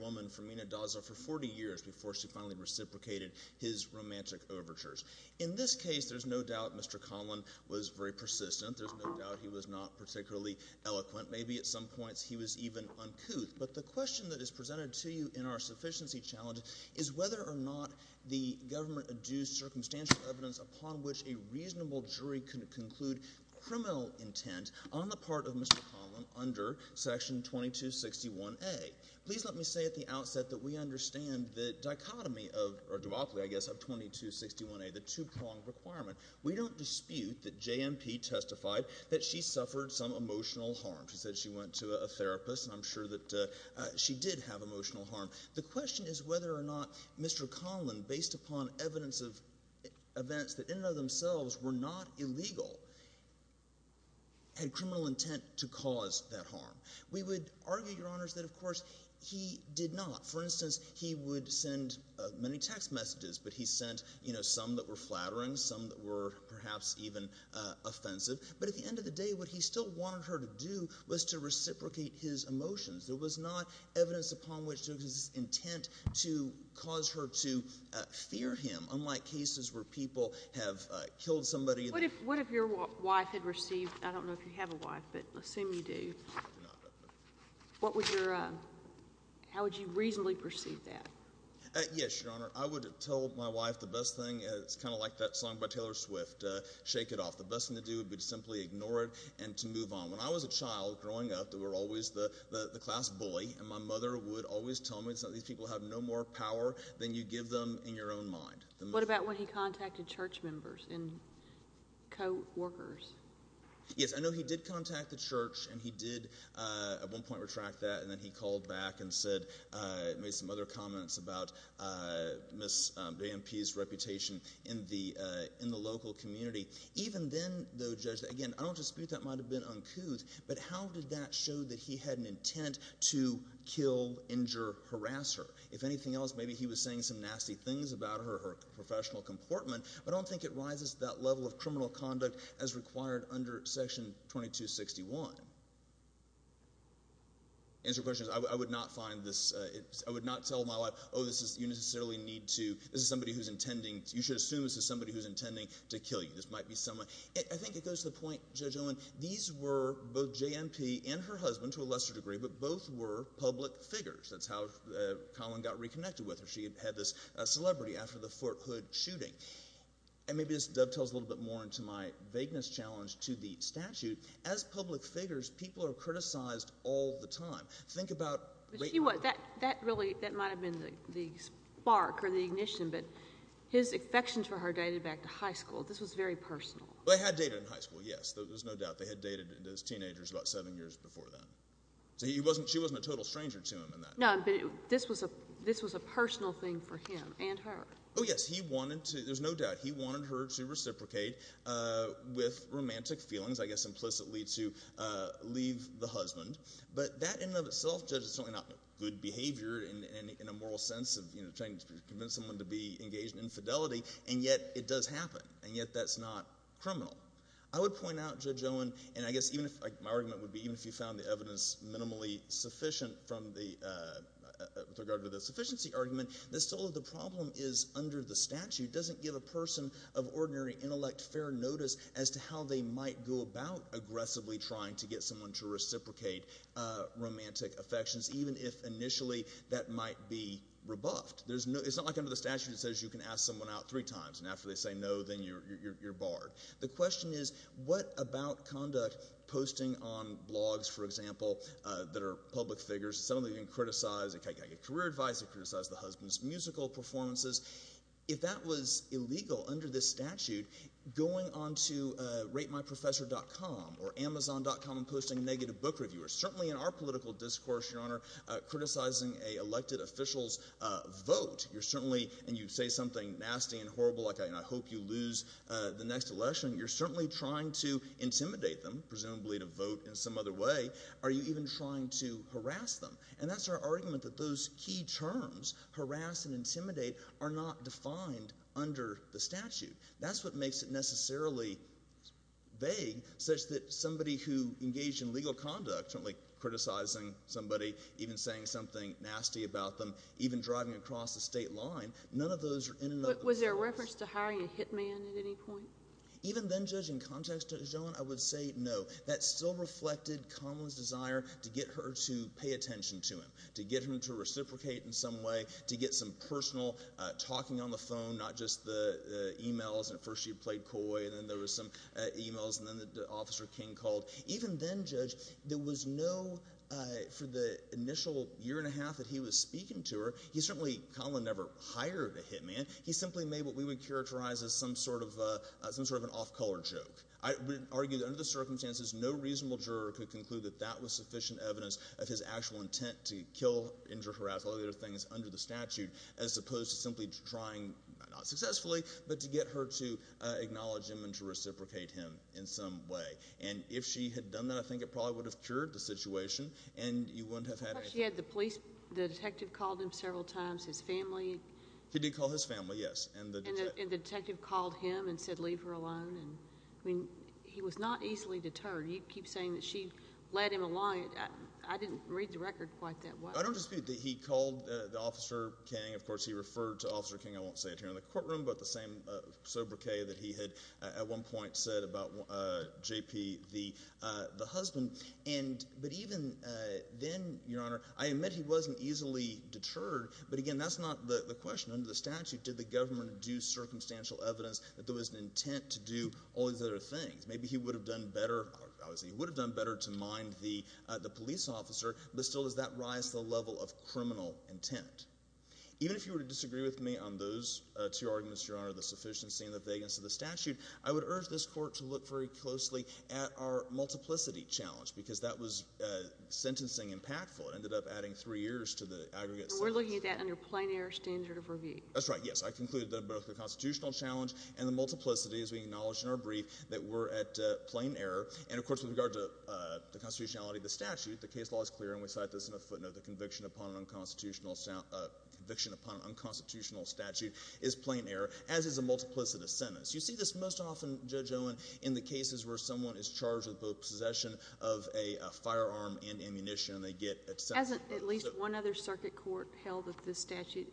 woman for 40 years before she finally reciprocated his romantic overtures. In this case, there is no doubt Mr. Conlan was very persistent. There is no doubt he was not particularly eloquent. Maybe at some points he was even uncouth. But the question that is presented to you in our sufficiency challenge is whether or not the government adduced circumstantial evidence upon which a reasonable jury could conclude criminal intent on the part of Mr. Please let me say at the outset that we understand the dichotomy of, or duopoly I guess, of 2261A, the two-pronged requirement. We don't dispute that JMP testified that she suffered some emotional harm. She said she went to a therapist, and I'm sure that she did have emotional harm. The question is whether or not Mr. Conlan, based upon evidence of events that in and of themselves were not illegal, had criminal intent to cause that harm. We would argue that of course he did not. For instance, he would send many text messages, but he sent some that were flattering, some that were perhaps even offensive. But at the end of the day, what he still wanted her to do was to reciprocate his emotions. There was not evidence upon which there was intent to cause her to fear him, unlike cases where people have killed somebody. What if your wife had received, I don't know if you have a wife, but assume you do. How would you reasonably perceive that? Yes, Your Honor. I would tell my wife the best thing, it's kind of like that song by Taylor Swift, Shake It Off. The best thing to do would be to simply ignore it and to move on. When I was a child growing up, there were always the class bully, and my mother would always tell me that these people have no more power than you give them in your own mind. What about when he contacted church members and co-workers? Yes, I know he did contact the church, and he did at one point retract that, and then he called back and made some other comments about Ms. Dampe's reputation in the local community. Even then, though, Judge, again, I don't dispute that might have been uncouth, but how did that show that he had an intent to kill, injure, harass her? If anything else, maybe he was saying some nasty things about her, her professional comportment, but I don't think it rises to that level of criminal conduct as required under Section 2261. The answer to your question is I would not find this, I would not tell my wife, oh, this is, you necessarily need to, this is somebody who's intending, you should assume this is somebody who's intending to kill you. This might be someone, I think it goes to the point, Judge Owen, these were both J.N.P. and her husband, to a lesser degree, but both were public figures. That's how Collin got reconnected with her. She had this celebrity after the fact, and maybe this dovetails a little bit more into my vagueness challenge to the statute. As public figures, people are criticized all the time. Think about... But she was, that really, that might have been the spark or the ignition, but his affections for her dated back to high school. This was very personal. They had dated in high school, yes. There's no doubt. They had dated as teenagers about seven years before then. So he wasn't, she wasn't a total stranger to him in that. No, but this was a personal thing for him and her. Oh, yes. He wanted to, there's no doubt, he wanted her to reciprocate with romantic feelings, I guess implicitly to leave the husband. But that in and of itself, Judge, is certainly not good behavior in a moral sense of trying to convince someone to be engaged in infidelity, and yet it does happen, and yet that's not criminal. I would point out, Judge Owen, and I guess even if, my argument would be even if you found the evidence minimally sufficient from the, with regard to the sufficiency argument, that still the problem is, under the statute, doesn't give a person of ordinary intellect fair notice as to how they might go about aggressively trying to get someone to reciprocate romantic affections, even if initially that might be rebuffed. There's no, it's not like under the statute it says you can ask someone out three times, and after they say no, then you're barred. The question is, what about conduct, posting on blogs, for example, that are public figures, suddenly you can criticize a career advisor, criticize the husband's musical performances. If that was illegal under this statute, going on to RateMyProfessor.com or Amazon.com and posting negative book reviewers, certainly in our political discourse, Your Honor, criticizing an elected official's vote, you're certainly, and you say something nasty and horrible like, I hope you lose the next election, you're certainly trying to intimidate them, presumably to vote in some other way, are you even trying to harass them? And that's our argument that those key terms, harass and intimidate, are not defined under the statute. That's what makes it necessarily vague, such that somebody who engaged in legal conduct, certainly criticizing somebody, even saying something nasty about them, even driving across the state line, none of those are in and of themselves. Was there a reference to hiring a hitman at any point? Even then, Judge, in context to Joan, I would say no. That still reflected Conlon's desire to get her to pay attention to him, to get him to reciprocate in some way, to get some personal talking on the phone, not just the emails. At first she played coy, and then there was some emails, and then Officer King called. Even then, Judge, there was no, for the initial year and a half that he was speaking to her, he certainly, Conlon never hired a hitman, he simply made what we would characterize as some sort of an off-color joke. I would argue that under the circumstances, no reasonable juror could conclude that that was sufficient evidence of his actual intent to kill, injure, harass, all the other things under the statute, as opposed to simply trying, not successfully, but to get her to acknowledge him and to reciprocate him in some way. And if she had done that, I think it probably would have cured the situation, and you wouldn't have had a… She had the police, the detective called him several times, his family. He did call his family, yes. And the detective called him and said, leave her alone. I mean, he was not easily deterred. You keep saying that she led him along. I didn't read the record quite that way. I don't dispute that he called Officer King. Of course, he referred to Officer King, I won't say it here in the courtroom, but the same sobriquet that he had at one point said about J.P., the husband. But even then, Your Honor, I admit he wasn't easily deterred, but, again, that's not the question. Under the statute, did the government do circumstantial evidence that there was an intent to do all these other things? Maybe he would have done better to mind the police officer, but still does that rise to the level of criminal intent? Even if you were to disagree with me on those two arguments, Your Honor, the sufficiency and the vagueness of the statute, I would urge this Court to look very closely at our multiplicity challenge because that was sentencing impactful. It ended up adding three years to the aggregate sentence. We're looking at that under plain error standard of review. That's right, yes. I concluded that both the constitutional challenge and the multiplicity, as we acknowledged in our brief, that we're at plain error. And, of course, with regard to the constitutionality of the statute, the case law is clear, and we cite this in a footnote, the conviction upon an unconstitutional statute is plain error, as is a multiplicity sentence. You see this most often, Judge Owen, in the cases where someone is charged with the possession of a firearm and ammunition and they get a sentence. Hasn't at least one other circuit court held that this statute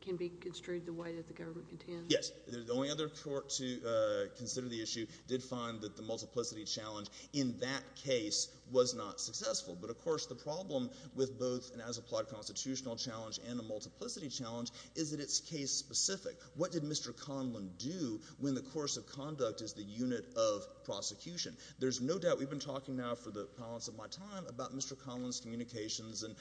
can be construed the way that the government contends? Yes. The only other court to consider the issue did find that the multiplicity challenge in that case was not successful. But, of course, the problem with both an as-applied constitutional challenge and a multiplicity challenge is that it's case-specific. What did Mr. Conlon do when the course of conduct is the unit of prosecution? There's no doubt we've been talking now for the balance of my time about Mr. Conlon's communications and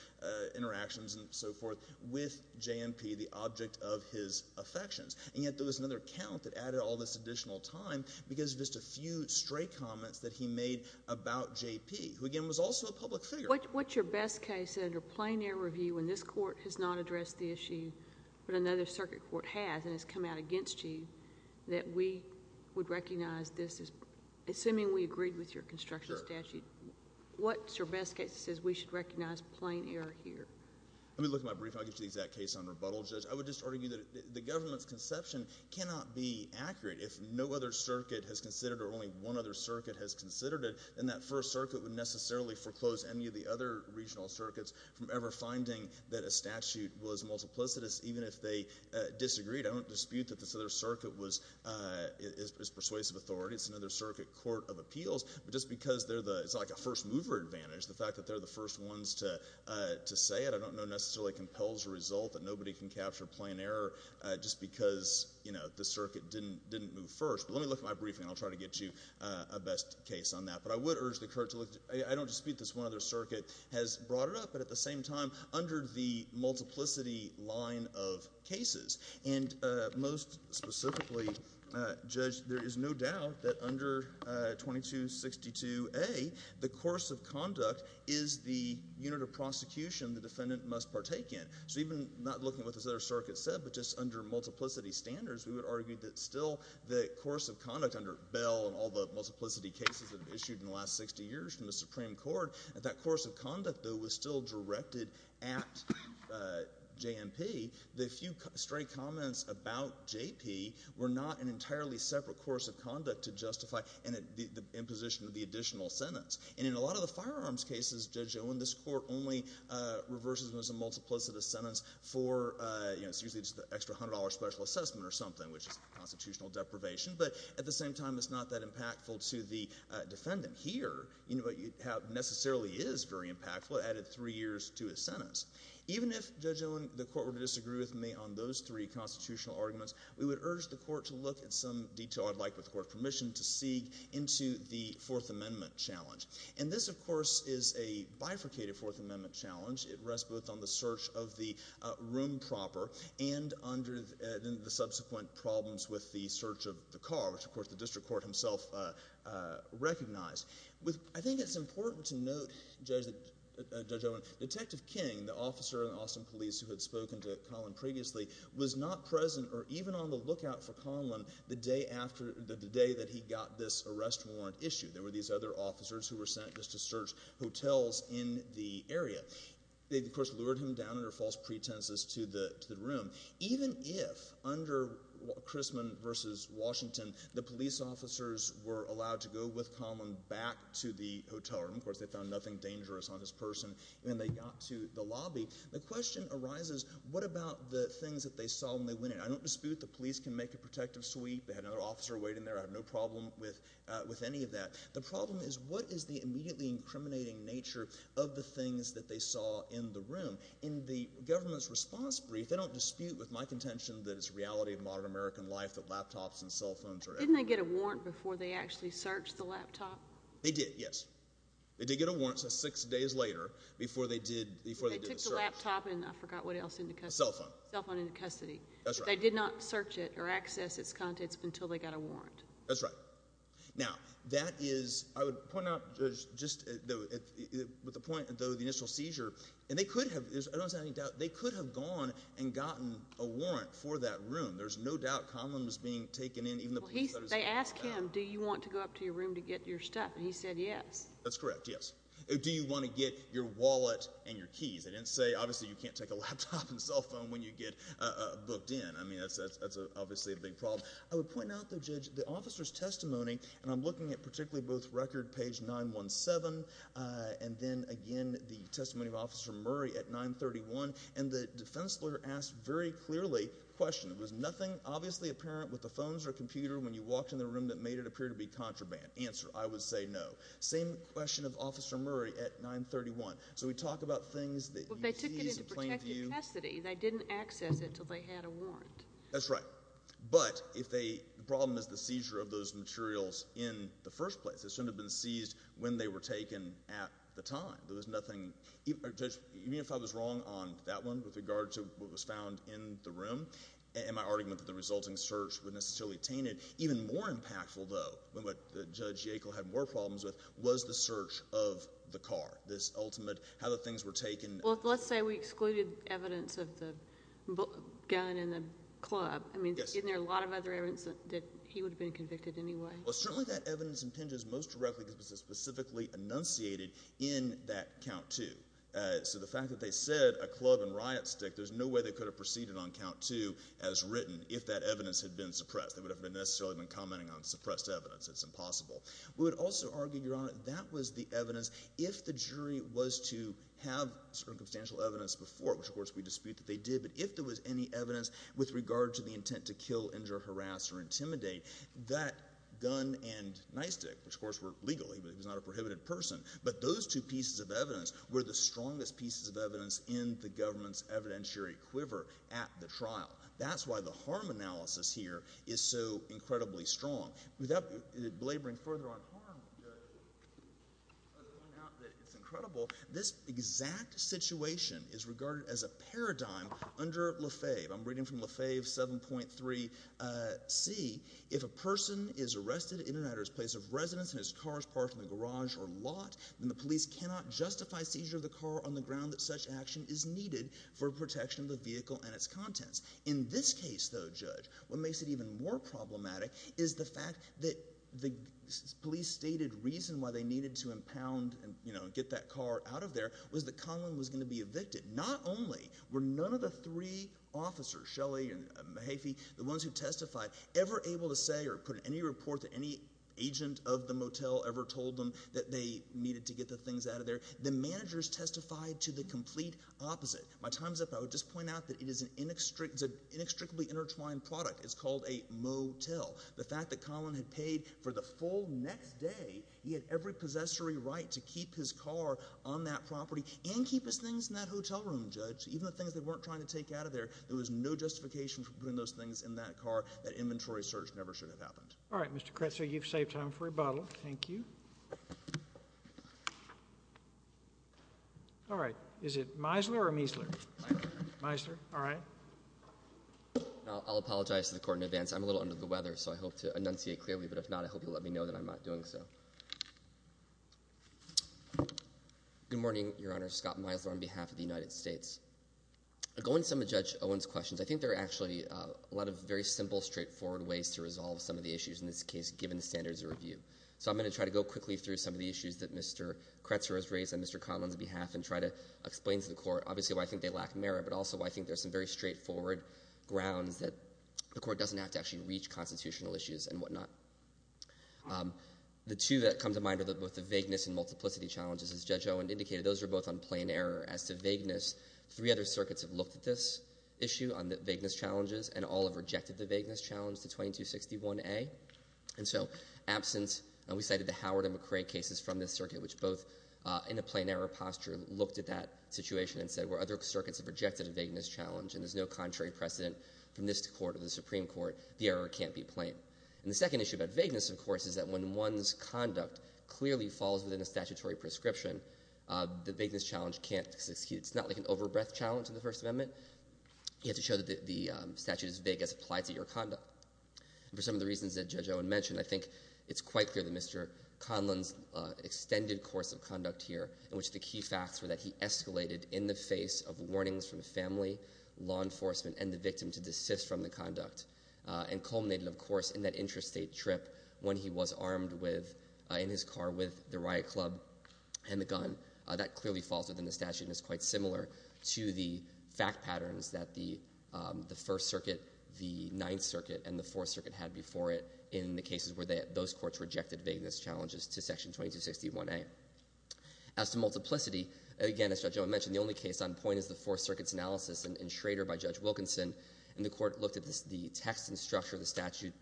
interactions and so forth with J&P, the object of his affections. And yet there was another count that added all this additional time because of just a few stray comments that he made about J&P, who, again, was also a public figure. What's your best case under plain error review when this court has not addressed the issue, but another circuit court has and has come out against you, that we would recognize this as, assuming we agreed with your construction statute, what's your best case that says we should recognize plain error here? Let me look at my brief. I'll give you the exact case on rebuttal, Judge. I would just argue that the government's conception cannot be accurate. If no other circuit has considered it or only one other circuit has considered it, then that first circuit would necessarily foreclose any of the other regional circuits from ever finding that a statute was multiplicitous, even if they disagreed. I don't dispute that this other circuit is persuasive authority. It's another circuit court of appeals. But just because it's like a first-mover advantage, the fact that they're the first ones to say it, I don't know necessarily compels a result that nobody can capture plain error just because the circuit didn't move first. But let me look at my briefing, and I'll try to get you a best case on that. But I would urge the court to look. I don't dispute this one other circuit has brought it up, but at the same time under the multiplicity line of cases. And most specifically, Judge, there is no doubt that under 2262A, the course of conduct is the unit of prosecution the defendant must partake in. So even not looking at what this other circuit said, but just under multiplicity standards, we would argue that still the course of conduct under Bell and all the multiplicity cases that have been issued in the last 60 years from the Supreme Court, that that course of conduct, though, was still directed at JMP. The few straight comments about JP were not an entirely separate course of conduct to justify the imposition of the additional sentence. And in a lot of the firearms cases, Judge Owen, this court only reverses them as a multiplicity sentence for usually just the extra $100 special assessment or something, which is constitutional deprivation. But at the same time, it's not that impactful to the defendant here, but it necessarily is very impactful. It added three years to his sentence. Even if, Judge Owen, the court were to disagree with me on those three constitutional arguments, we would urge the court to look at some detail I'd like, with court permission, to seek into the Fourth Amendment challenge. And this, of course, is a bifurcated Fourth Amendment challenge. It rests both on the search of the room proper and under the subsequent problems with the search of the car, which, of course, the district court himself recognized. I think it's important to note, Judge Owen, Detective King, the officer in Austin Police who had spoken to Colin previously, was not present or even on the lookout for Colin the day that he got this arrest warrant issue. There were these other officers who were sent just to search hotels in the area. They, of course, lured him down under false pretenses to the room. Even if, under Chrisman v. Washington, the police officers were allowed to go with Colin back to the hotel room, of course, they found nothing dangerous on this person, and they got to the lobby, the question arises, what about the things that they saw when they went in? I don't dispute the police can make a protective sweep. They had another officer waiting there. I have no problem with any of that. The problem is, what is the immediately incriminating nature of the things that they saw in the room? In the government's response brief, they don't dispute with my contention that it's the reality of modern American life that laptops and cell phones are everywhere. Didn't they get a warrant before they actually searched the laptop? They did, yes. They did get a warrant six days later before they did the search. The laptop and I forgot what else into custody. The cell phone. The cell phone into custody. That's right. They did not search it or access its contents until they got a warrant. That's right. Now, that is, I would point out just with the point of the initial seizure, and they could have, I don't have any doubt, they could have gone and gotten a warrant for that room. There's no doubt Colin was being taken in. They asked him, do you want to go up to your room to get your stuff? And he said yes. That's correct, yes. Do you want to get your wallet and your keys? They didn't say, obviously, you can't take a laptop and cell phone when you get booked in. I mean, that's obviously a big problem. I would point out, though, Judge, the officer's testimony, and I'm looking at particularly both record page 917 and then again the testimony of Officer Murray at 931, and the defense lawyer asked very clearly a question. It was nothing obviously apparent with the phones or computer when you walked in the room that made it appear to be contraband. Answer, I would say no. Same question of Officer Murray at 931. So we talk about things that you seize in plain view. Well, they took it into protective custody. They didn't access it until they had a warrant. That's right. But the problem is the seizure of those materials in the first place. It shouldn't have been seized when they were taken at the time. There was nothing. Judge, even if I was wrong on that one with regard to what was found in the room, and my argument that the resulting search would necessarily obtain it, even more impactful, though, what Judge Yackel had more problems with was the search of the car, this ultimate, how the things were taken. Well, let's say we excluded evidence of the gun in the club. I mean, isn't there a lot of other evidence that he would have been convicted anyway? Well, certainly that evidence impinges most directly because it was specifically enunciated in that Count II. So the fact that they said a club and riot stick, there's no way they could have proceeded on Count II as written if that evidence had been suppressed. They would have necessarily been commenting on suppressed evidence. It's impossible. We would also argue, Your Honor, that was the evidence. If the jury was to have circumstantial evidence before, which, of course, we dispute that they did, but if there was any evidence with regard to the intent to kill, injure, harass, or intimidate, that gun and nightstick, which, of course, were legal. He was not a prohibited person. But those two pieces of evidence were the strongest pieces of evidence in the government's evidentiary quiver at the trial. That's why the harm analysis here is so incredibly strong. Without belaboring further on harm, Judge, let's point out that it's incredible. This exact situation is regarded as a paradigm under Lefebvre. I'm reading from Lefebvre 7.3c. If a person is arrested in or at his place of residence and his car is parked in the garage or lot, then the police cannot justify seizure of the car on the ground that such action is needed for protection of the vehicle and its contents. In this case, though, Judge, what makes it even more problematic is the fact that the police stated reason why they needed to impound and get that car out of there was that Conlon was going to be evicted. Not only were none of the three officers, Shelley and Mahaffey, the ones who testified, ever able to say or put any report that any agent of the motel ever told them that they needed to get the things out of there. The managers testified to the complete opposite. My time's up. I would just point out that it is an inextricably intertwined product. It's called a motel. The fact that Conlon had paid for the full next day, he had every possessory right to keep his car on that property and keep his things in that hotel room, Judge. Even the things they weren't trying to take out of there, there was no justification for putting those things in that car. That inventory search never should have happened. All right. Mr. Kretzer, you've saved time for rebuttal. Thank you. All right. Is it Meisler or Meisler? Meisler. Meisler. All right. I'll apologize to the Court in advance. I'm a little under the weather, so I hope to enunciate clearly. But if not, I hope you'll let me know that I'm not doing so. Good morning, Your Honor. Scott Meisler on behalf of the United States. Going to some of Judge Owen's questions, I think there are actually a lot of very simple, straightforward ways to resolve some of the issues in this case, given the standards of review. So I'm going to try to go quickly through some of the issues that Mr. Kretzer has raised on Mr. Conlon's behalf and try to explain to the Court, obviously, why I think they lack merit, but also why I think there are some very straightforward grounds that the Court doesn't have to actually reach constitutional issues and whatnot. The two that come to mind are both the vagueness and multiplicity challenges, as Judge Owen indicated. Those are both on plain error. As to vagueness, three other circuits have looked at this issue, on the vagueness challenges, and all have rejected the vagueness challenge to 2261A. And so absence, and we cited the Howard and McRae cases from this circuit, which both, in a plain error posture, looked at that situation and said where other circuits have rejected a vagueness challenge and there's no contrary precedent from this Court or the Supreme Court, the error can't be plain. And the second issue about vagueness, of course, is that when one's conduct clearly falls within a statutory prescription, the vagueness challenge can't succeed. It's not like an overbreath challenge in the First Amendment. You have to show that the statute is vague as applied to your conduct. And for some of the reasons that Judge Owen mentioned, I think it's quite clear that Mr. Conlon's extended course of conduct here, in which the key facts were that he escalated in the face of warnings from family, law enforcement, and the victim to desist from the conduct, and culminated, of course, in that interstate trip when he was armed in his car with the riot club and the gun. That clearly falls within the statute and is quite similar to the fact patterns that the First Circuit, the Ninth Circuit, and the Fourth Circuit had before it in the cases where those courts rejected vagueness challenges to Section 2261A. As to multiplicity, again, as Judge Owen mentioned, the only case on point is the Fourth Circuit's analysis in Schrader by Judge Wilkinson, and the Court looked at the text and structure of the statute,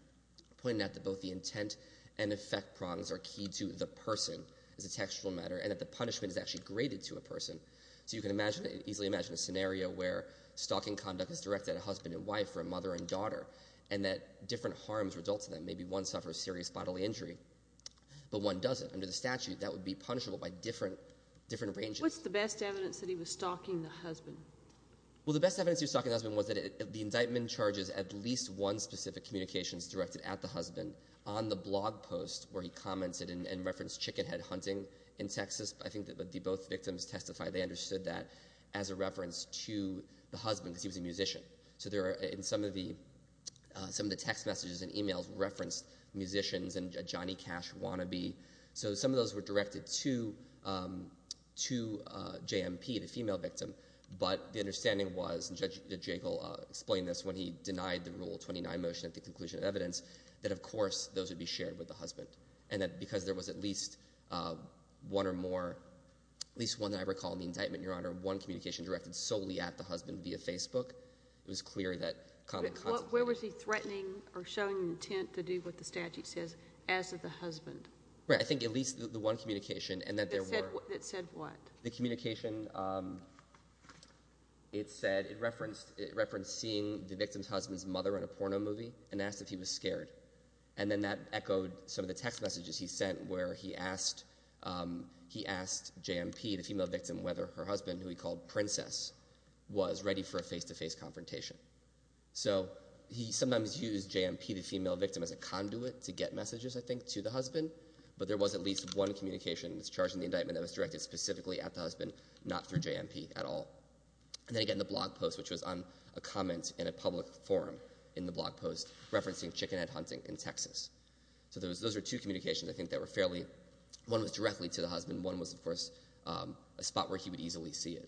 pointing out that both the intent and effect prongs are key to the person as a textual matter, and that the punishment is actually graded to a person. So you can easily imagine a scenario where stalking conduct is directed at a husband and wife or a mother and daughter, and that different harms result to them. Maybe one suffers serious bodily injury, but one doesn't. Under the statute, that would be punishable by different ranges. What's the best evidence that he was stalking the husband? Well, the best evidence he was stalking the husband was that the indictment charges at least one specific communications directed at the husband on the blog post where he commented and referenced chickenhead hunting in Texas. I think that both victims testified they understood that as a reference to the husband because he was a musician. So in some of the text messages and emails referenced musicians and a Johnny Cash wannabe. So some of those were directed to J.M.P., the female victim, but the understanding was, and Judge Jagle explained this when he denied the Rule 29 motion at the conclusion of evidence, that of course those would be shared with the husband, and that because there was at least one or more, at least one that I recall in the indictment, Your Honor, one communication directed solely at the husband via Facebook, it was clear that common contemplation. Where was he threatening or showing intent to do what the statute says as of the husband? Right. I think at least the one communication and that there were. That said what? The communication, it said it referenced seeing the victim's husband's mother in a porno movie and asked if he was scared. And then that echoed some of the text messages he sent where he asked J.M.P., the female victim, whether her husband, who he called Princess, was ready for a face-to-face confrontation. So he sometimes used J.M.P., the female victim, as a conduit to get messages, I think, to the husband, but there was at least one communication that was charged in the indictment that was directed specifically at the husband, not through J.M.P. at all. And then again the blog post, which was on a comment in a public forum in the blog post referencing chickenhead hunting in Texas. So those were two communications I think that were fairly, one was directly to the husband, and one was, of course, a spot where he would easily see it.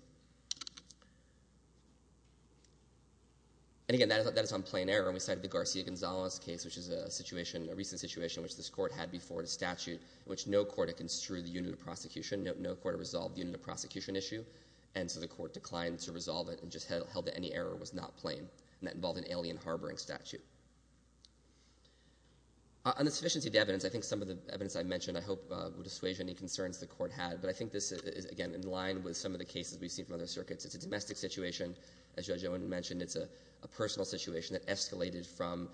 And again that is on plain error. We cited the Garcia-Gonzalez case, which is a recent situation which this court had before the statute in which no court had construed the unit of prosecution, no court had resolved the unit of prosecution issue, and so the court declined to resolve it and just held that any error was not plain, and that involved an alien harboring statute. On the sufficiency of the evidence, I think some of the evidence I mentioned I hope will dissuade you from any concerns the court had. But I think this is, again, in line with some of the cases we've seen from other circuits. It's a domestic situation. As Judge Owen mentioned, it's a personal situation that escalated from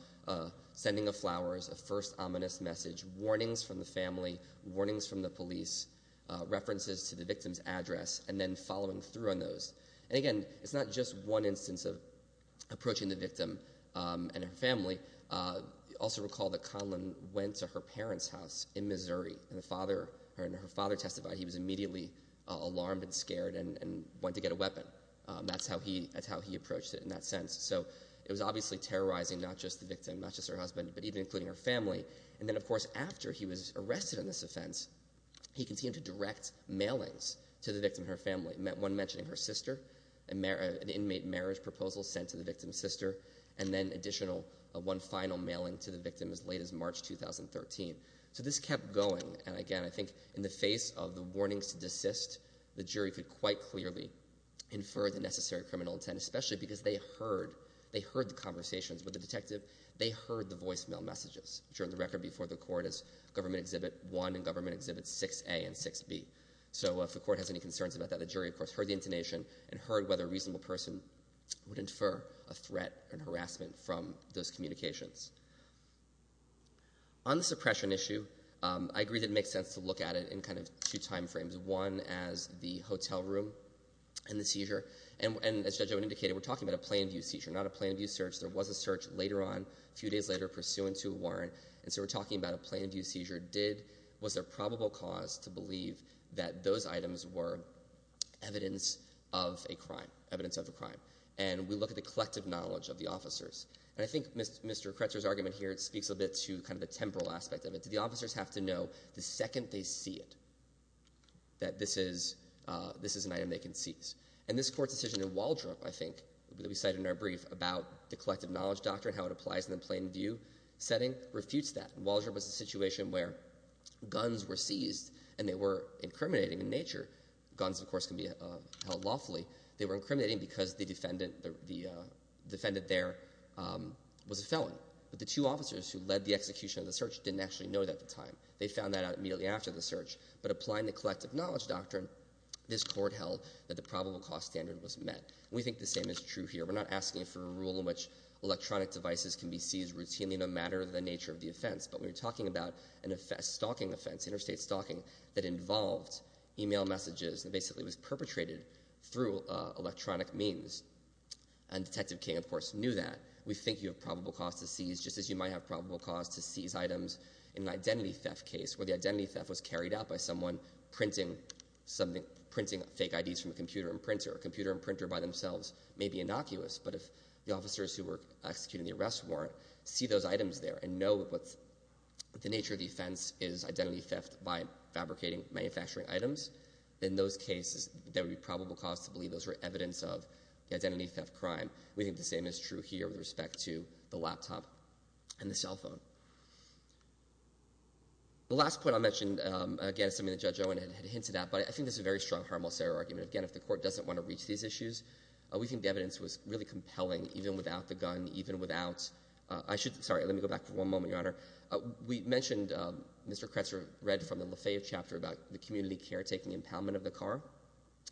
sending of flowers, a first ominous message, warnings from the family, warnings from the police, references to the victim's address, and then following through on those. And again, it's not just one instance of approaching the victim and her family. Also recall that Conlon went to her parents' house in Missouri, and her father testified he was immediately alarmed and scared and went to get a weapon. That's how he approached it in that sense. So it was obviously terrorizing not just the victim, not just her husband, but even including her family. And then, of course, after he was arrested on this offense, he continued to direct mailings to the victim and her family, one mentioning her sister, an inmate marriage proposal sent to the victim's sister, and then additional, one final mailing to the victim as late as March 2013. So this kept going, and again, I think in the face of the warnings to desist, the jury could quite clearly infer the necessary criminal intent, especially because they heard the conversations with the detective. They heard the voicemail messages, which are on the record before the court as Government Exhibit 1 and Government Exhibit 6A and 6B. So if the court has any concerns about that, the jury, of course, heard the intonation and heard whether a reasonable person would infer a threat and harassment from those communications. On the suppression issue, I agree that it makes sense to look at it in kind of two time frames, one as the hotel room and the seizure. And as Judge Owen indicated, we're talking about a plain view seizure, not a plain view search. There was a search later on, a few days later, pursuant to a warrant. And so we're talking about a plain view seizure. Was there probable cause to believe that those items were evidence of a crime, evidence of a crime? And we look at the collective knowledge of the officers. And I think Mr. Kretzer's argument here speaks a bit to kind of the temporal aspect of it. Do the officers have to know the second they see it that this is an item they can seize? And this court's decision in Waldrop, I think, that we cited in our brief, about the collective knowledge doctrine, how it applies in the plain view setting, refutes that. Waldrop was a situation where guns were seized and they were incriminating in nature. Guns, of course, can be held lawfully. They were incriminating because the defendant there was a felon. But the two officers who led the execution of the search didn't actually know that at the time. They found that out immediately after the search. But applying the collective knowledge doctrine, this court held that the probable cause standard was met. We think the same is true here. We're not asking for a rule in which electronic devices can be seized routinely, no matter the nature of the offense. But we're talking about an offense, a stalking offense, interstate stalking, that involved email messages and basically was perpetrated through electronic means. And Detective King, of course, knew that. We think you have probable cause to seize, just as you might have probable cause to seize items in an identity theft case, where the identity theft was carried out by someone printing fake IDs from a computer and printer. A computer and printer by themselves may be innocuous, but if the officers who were executing the arrest warrant see those items there and know what the nature of the offense is identity theft by fabricating manufacturing items, in those cases there would be probable cause to believe those were evidence of the identity theft crime. We think the same is true here with respect to the laptop and the cell phone. The last point I'll mention, again, is something that Judge Owen had hinted at, but I think this is a very strong harmless error argument. Again, if the court doesn't want to reach these issues, we think the evidence was really compelling, even without the gun, even without—sorry, let me go back for one moment, Your Honor. We mentioned, Mr. Kretzer read from the Lafayette chapter about the community caretaking impoundment of the car.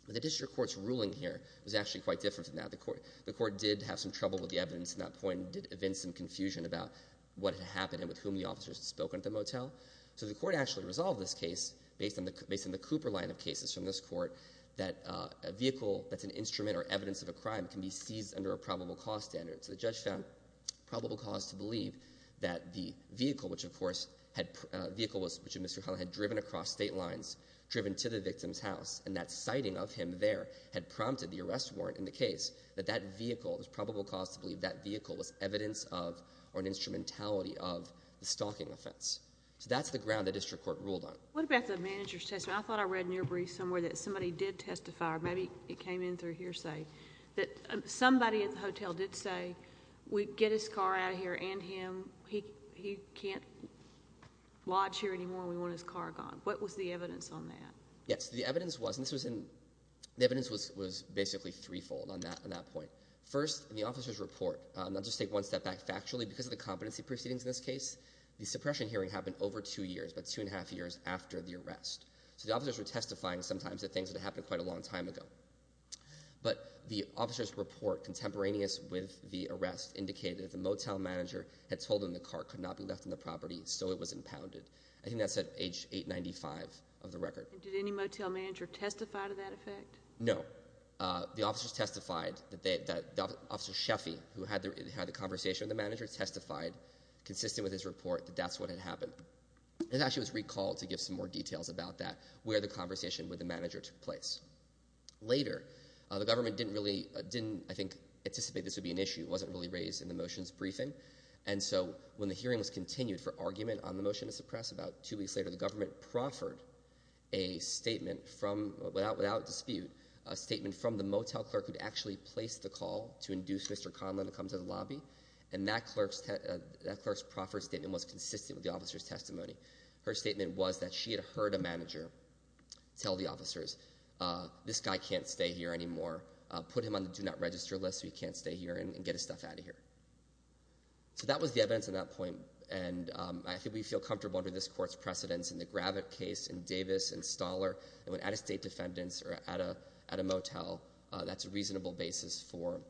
The district court's ruling here was actually quite different than that. The court did have some trouble with the evidence at that point and did invent some confusion about what had happened and with whom the officers had spoken at the motel. So the court actually resolved this case based on the Cooper line of cases from this court that a vehicle that's an instrument or evidence of a crime can be seized under a probable cause standard. So the judge found probable cause to believe that the vehicle, which, of course, had— a vehicle which Mr. Huntley had driven across state lines, driven to the victim's house, and that sighting of him there had prompted the arrest warrant in the case, that that vehicle was probable cause to believe that vehicle was evidence of or an instrumentality of the stalking offense. So that's the ground the district court ruled on. What about the manager's testimony? I thought I read in your brief somewhere that somebody did testify, or maybe it came in through hearsay, that somebody at the hotel did say, we get his car out of here and him, he can't lodge here anymore and we want his car gone. What was the evidence on that? Yes, the evidence was, and this was in—the evidence was basically threefold on that point. First, in the officer's report, and I'll just take one step back. Factually, because of the competency proceedings in this case, the suppression hearing happened over two years, about two and a half years after the arrest. So the officers were testifying sometimes to things that had happened quite a long time ago. But the officer's report contemporaneous with the arrest indicated that the motel manager had told him the car could not be left on the property, so it was impounded. I think that's at age 895 of the record. And did any motel manager testify to that effect? No. The officers testified that—Officer Sheffy, who had the conversation with the manager, testified consistent with his report that that's what had happened. It actually was recalled to give some more details about that, where the conversation with the manager took place. Later, the government didn't really—didn't, I think, anticipate this would be an issue. It wasn't really raised in the motion's briefing. And so when the hearing was continued for argument on the motion to suppress, about two weeks later, the government proffered a statement from—without dispute, a statement from the motel clerk who'd actually placed the call to induce Mr. Conlon to come to the lobby. And that clerk's proffered statement was consistent with the officer's testimony. Her statement was that she had heard a manager tell the officers, this guy can't stay here anymore. Put him on the do-not-register list so he can't stay here and get his stuff out of here. So that was the evidence at that point. And I think we feel comfortable under this Court's precedence in the Gravitt case, in Davis, in Stoller, that when out-of-state defendants are at a motel, that's a reasonable basis for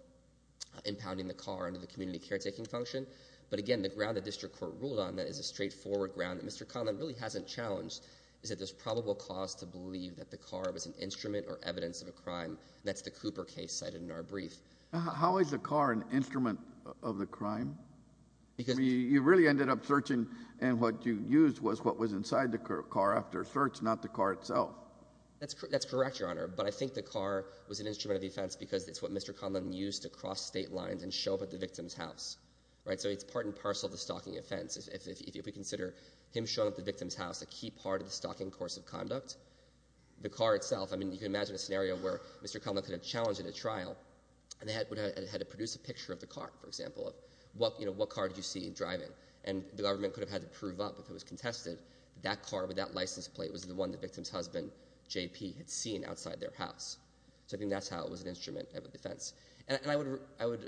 impounding the car under the community caretaking function. But again, the ground the district court ruled on that is a straightforward ground that Mr. Conlon really hasn't challenged is that there's probable cause to believe that the car was an instrument or evidence of a crime, and that's the Cooper case cited in our brief. How is the car an instrument of the crime? I mean, you really ended up searching, and what you used was what was inside the car after search, not the car itself. That's correct, Your Honor. But I think the car was an instrument of the offense because it's what Mr. Conlon used to cross State lines and show up at the victim's house, right? So it's part and parcel of the stalking offense. If we consider him showing up at the victim's house a key part of the stalking course of conduct, the car itself, I mean, you can imagine a scenario where Mr. Conlon could have challenged it at trial and had to produce a picture of the car, for example, of what car did you see him driving, and the government could have had to prove up if it was contested that that car with that license plate was the one the victim's husband, J.P., had seen outside their house. So I think that's how it was an instrument of a defense. And I would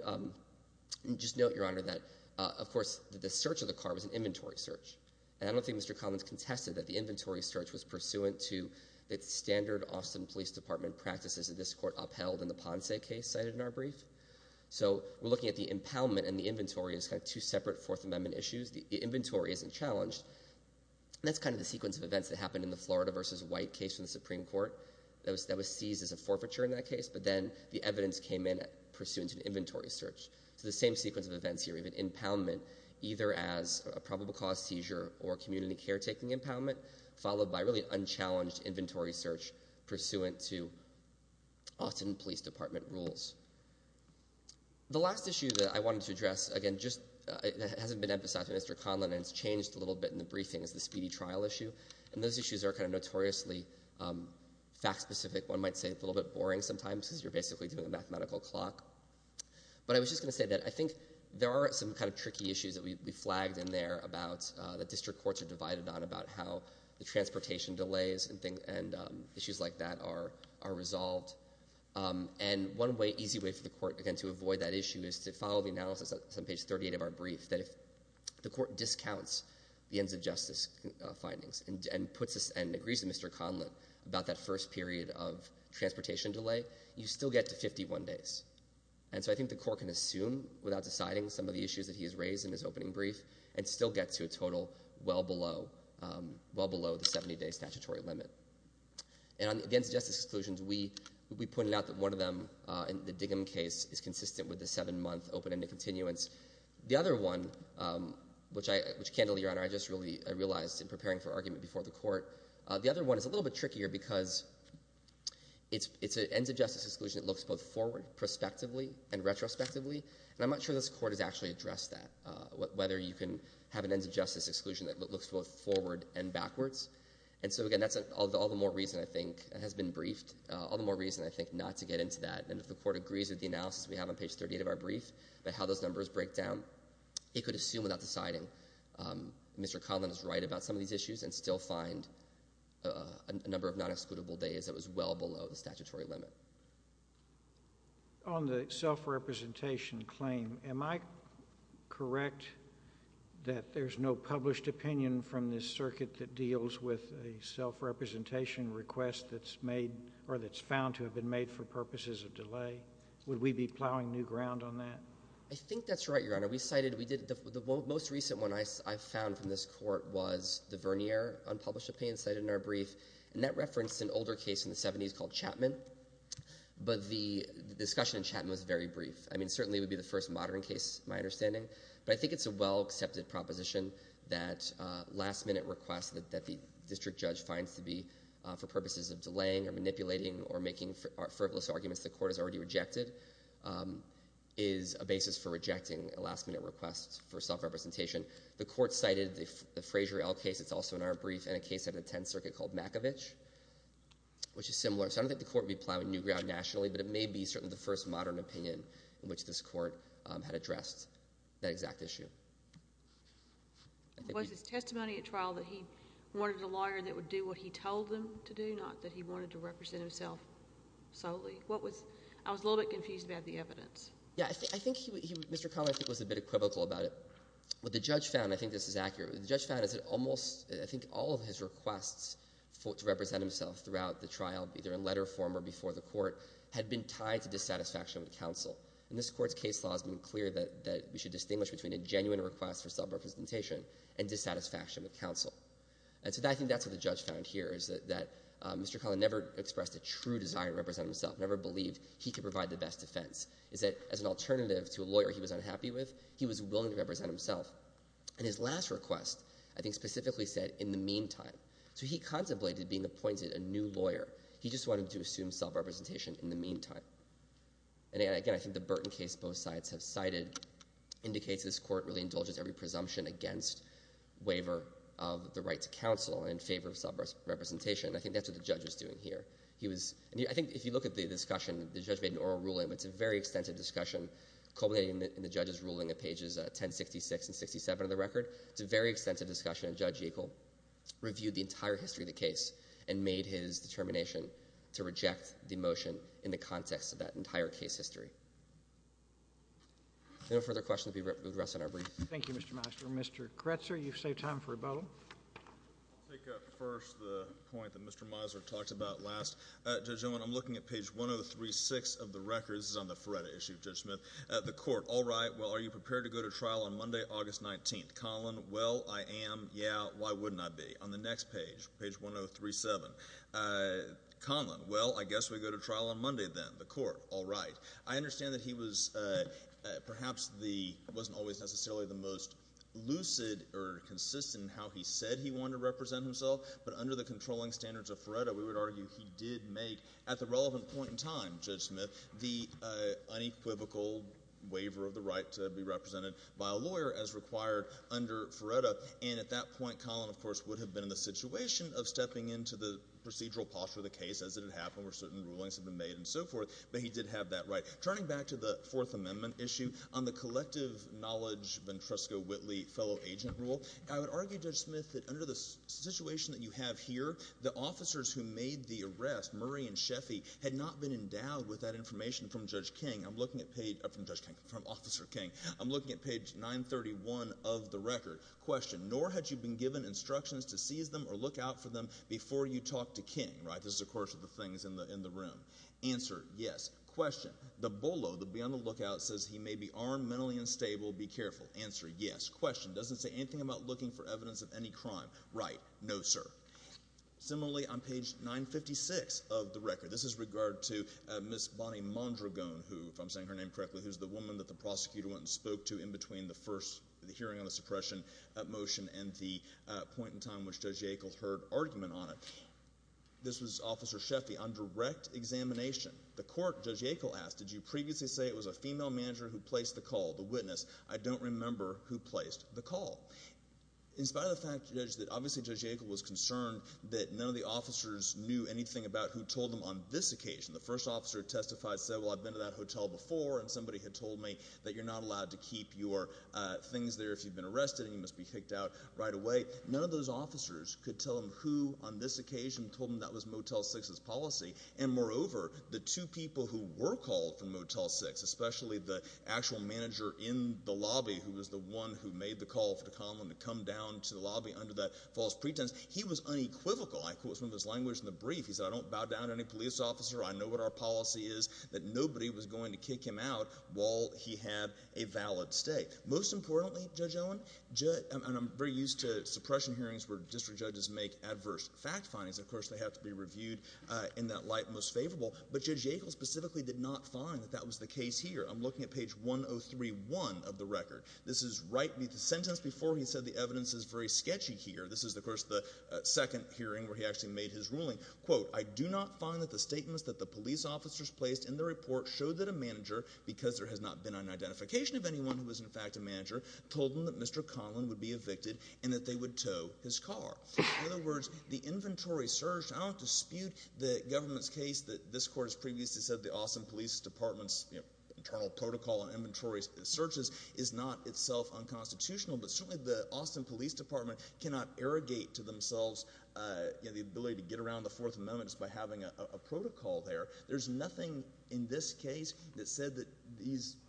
just note, Your Honor, that, of course, the search of the car was an inventory search, and I don't think Mr. Conlon has contested that the inventory search was pursuant to the standard Austin Police Department practices that this court upheld in the Ponce case cited in our brief. So we're looking at the impoundment and the inventory as kind of two separate Fourth Amendment issues. The inventory isn't challenged. That's kind of the sequence of events that happened in the Florida v. White case in the Supreme Court that was seized as a forfeiture in that case, but then the evidence came in pursuant to an inventory search. So the same sequence of events here. We have an impoundment either as a probable cause seizure or community caretaking impoundment, followed by really unchallenged inventory search pursuant to Austin Police Department rules. The last issue that I wanted to address, again, just that hasn't been emphasized by Mr. Conlon and it's changed a little bit in the briefing, is the speedy trial issue. And those issues are kind of notoriously fact-specific. One might say a little bit boring sometimes because you're basically doing a mathematical clock. But I was just going to say that I think there are some kind of tricky issues that we flagged in there that district courts are divided on about how the transportation delays and issues like that are resolved. And one easy way for the court, again, to avoid that issue is to follow the analysis on page 38 of our brief that if the court discounts the ends of justice findings and agrees with Mr. Conlon about that first period of transportation delay, you still get to 51 days. And so I think the court can assume without deciding some of the issues that he has raised in his opening brief and still get to a total well below the 70-day statutory limit. And on the ends of justice exclusions, we pointed out that one of them, the Diggum case, is consistent with the seven-month open-ended continuance. The other one, which, candidly, Your Honor, I just realized in preparing for argument before the court, the other one is a little bit trickier because it's an ends of justice exclusion that looks both forward, prospectively, and retrospectively, and I'm not sure this court has actually addressed that, but whether you can have an ends of justice exclusion that looks both forward and backwards. And so, again, that's all the more reason, I think, it has been briefed, all the more reason, I think, not to get into that. And if the court agrees with the analysis we have on page 38 of our brief about how those numbers break down, it could assume without deciding Mr. Conlon is right about some of these issues and still find a number of non-excludable days that was well below the statutory limit. On the self-representation claim, am I correct that there's no published opinion from this circuit that deals with a self-representation request that's made or that's found to have been made for purposes of delay? Would we be plowing new ground on that? I think that's right, Your Honor. The most recent one I found from this court was the Vernier unpublished opinion cited in our brief, and that referenced an older case in the 70s called Chapman, but the discussion in Chapman was very brief. I mean, certainly it would be the first modern case, my understanding, but I think it's a well-accepted proposition that last-minute requests that the district judge finds to be for purposes of delaying or manipulating or making frivolous arguments the court has already rejected is a basis for rejecting a last-minute request for self-representation. The court cited the Fraser L. case that's also in our brief and a case out of the Tenth Circuit called Makovich, which is similar. So I don't think the court would be plowing new ground nationally, but it may be certainly the first modern opinion in which this court had addressed that exact issue. Was his testimony at trial that he wanted a lawyer that would do what he told him to do, not that he wanted to represent himself solely? What was — I was a little bit confused about the evidence. Yeah, I think he — Mr. Connell, I think, was a bit equivocal about it. What the judge found, and I think this is accurate, what the judge found is that almost — I think all of his requests to represent himself throughout the trial, either in letter form or before the court, had been tied to dissatisfaction with counsel. And this court's case law has been clear that we should distinguish between a genuine request for self-representation and dissatisfaction with counsel. And so I think that's what the judge found here, is that Mr. Connell never expressed a true desire to represent himself, never believed he could provide the best defense. It's that, as an alternative to a lawyer he was unhappy with, he was willing to represent himself. And his last request, I think, specifically said, in the meantime. So he contemplated being appointed a new lawyer. He just wanted to assume self-representation in the meantime. And again, I think the Burton case both sides have cited indicates this court really indulges every presumption against waiver of the right to counsel in favor of self-representation. I think that's what the judge was doing here. I think if you look at the discussion, the judge made an oral ruling, but it's a very extensive discussion culminating in the judge's ruling at pages 1066 and 1067 of the record. It's a very extensive discussion. And Judge Yackel reviewed the entire history of the case and made his determination to reject the motion in the context of that entire case history. If there are no further questions, we will rest on our brief. Thank you, Mr. Miser. Mr. Kretzer, you've saved time for a bow. I'll take up first the point that Mr. Miser talked about last. Judge Owen, I'm looking at page 1036 of the record. This is on the FREDA issue, Judge Smith. The court, all right, well, are you prepared to go to trial on Monday, August 19th? Colin, well, I am, yeah, why wouldn't I be? On the next page, page 1037, Colin, well, I guess we go to trial on Monday then. The court, all right. I understand that he was perhaps the—wasn't always necessarily the most lucid or consistent in how he said he wanted to represent himself. But under the controlling standards of FREDA, we would argue he did make, at the relevant point in time, Judge Smith, the unequivocal waiver of the right to be represented by a lawyer as required under FREDA. And at that point, Colin, of course, would have been in the situation of stepping into the procedural posture of the case as it had happened where certain rulings had been made and so forth. But he did have that right. Turning back to the Fourth Amendment issue, on the collective knowledge Ventresca-Whitley fellow agent rule, I would argue, Judge Smith, that under the situation that you have here, the officers who made the arrest, Murray and Sheffy, had not been endowed with that information from Judge King. I'm looking at page—from Judge King, from Officer King. I'm looking at page 931 of the record. Question, nor had you been given instructions to seize them or look out for them before you talked to King, right? This is, of course, of the things in the room. Answer, yes. Question, the BOLO, the beyond the lookout, says he may be armed, mentally unstable. Be careful. Answer, yes. Question, doesn't say anything about looking for evidence of any crime. Right. No, sir. Similarly, on page 956 of the record, this is regard to Miss Bonnie Mondragon, who, if I'm saying her name correctly, who's the woman that the prosecutor went and spoke to in between the first hearing on the suppression motion and the point in time in which Judge Yackel heard argument on it. This was Officer Sheffy. On direct examination, the court, Judge Yackel asked, did you previously say it was a female manager who placed the call, the witness? I don't remember who placed the call. In spite of the fact, Judge, that obviously Judge Yackel was concerned that none of the officers knew anything about who told them on this occasion. The first officer who testified said, well, I've been to that hotel before and somebody had told me that you're not allowed to keep your things there if you've been arrested and you must be kicked out right away. None of those officers could tell him who, on this occasion, told them that was Motel 6's policy. And moreover, the two people who were called from Motel 6, especially the actual manager in the lobby, who was the one who made the call for Conlon to come down to the lobby under that false pretense, he was unequivocal. I quote from his language in the brief. He said, I don't bow down to any police officer. I know what our policy is, that nobody was going to kick him out while he had a valid stay. Most importantly, Judge Owen, and I'm very used to suppression hearings where district judges make adverse fact findings. Of course, they have to be reviewed in that light most favorable. But Judge Yackel specifically did not find that that was the case here. I'm looking at page 103-1 of the record. This is the sentence before he said the evidence is very sketchy here. This is, of course, the second hearing where he actually made his ruling. Quote, I do not find that the statements that the police officers placed in the report showed that a manager, because there has not been an identification of anyone who was in fact a manager, told them that Mr. Conlon would be evicted and that they would tow his car. In other words, the inventory search, I don't dispute the government's case that this court has previously said the Austin Police Department's internal protocol on inventory searches is not itself unconstitutional, but certainly the Austin Police Department cannot irrigate to themselves the ability to get around the Fourth Amendment just by having a protocol there. There's nothing in this case that said that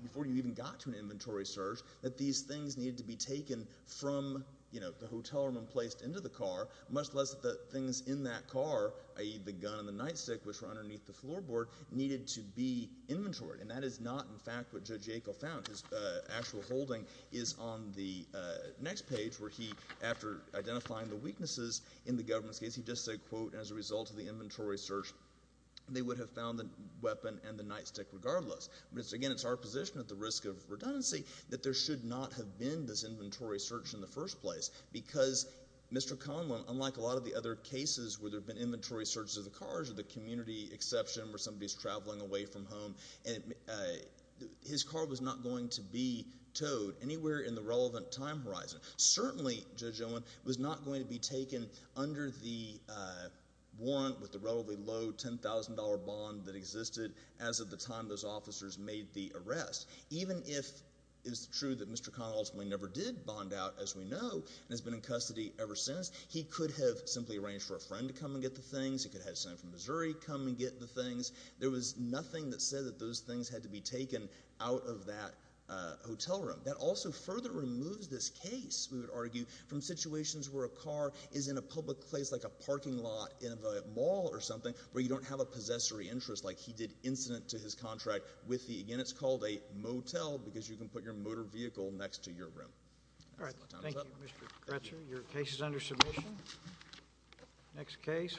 before you even got to an inventory search that these things needed to be taken from the hotel room and placed into the car, much less the things in that car, i.e., the gun and the nightstick, which were underneath the floorboard, needed to be inventoried. And that is not, in fact, what Judge Yackel found. His actual holding is on the next page where he, after identifying the weaknesses in the government's case, he just said, quote, as a result of the inventory search, they would have found the weapon and the nightstick regardless. But again, it's our position at the risk of redundancy that there should not have been this inventory search in the first place because Mr. Conlon, unlike a lot of the other cases where there have been inventory searches of the cars or the community exception where somebody is traveling away from home, his car was not going to be towed anywhere in the relevant time horizon. Certainly, Judge Owen, it was not going to be taken under the warrant with the relatively low $10,000 bond that existed as of the time those officers made the arrest. Even if it's true that Mr. Conlon ultimately never did bond out, as we know, and has been in custody ever since, he could have simply arranged for a friend to come and get the things. He could have had a son from Missouri come and get the things. There was nothing that said that those things had to be taken out of that hotel room. That also further removes this case, we would argue, from situations where a car is in a public place like a parking lot in a mall or something where you don't have a possessory interest like he did incident to his contract with the— again, it's called a motel because you can put your motor vehicle next to your room. All right. Thank you, Mr. Gretzer. Your case is under submission. Next case.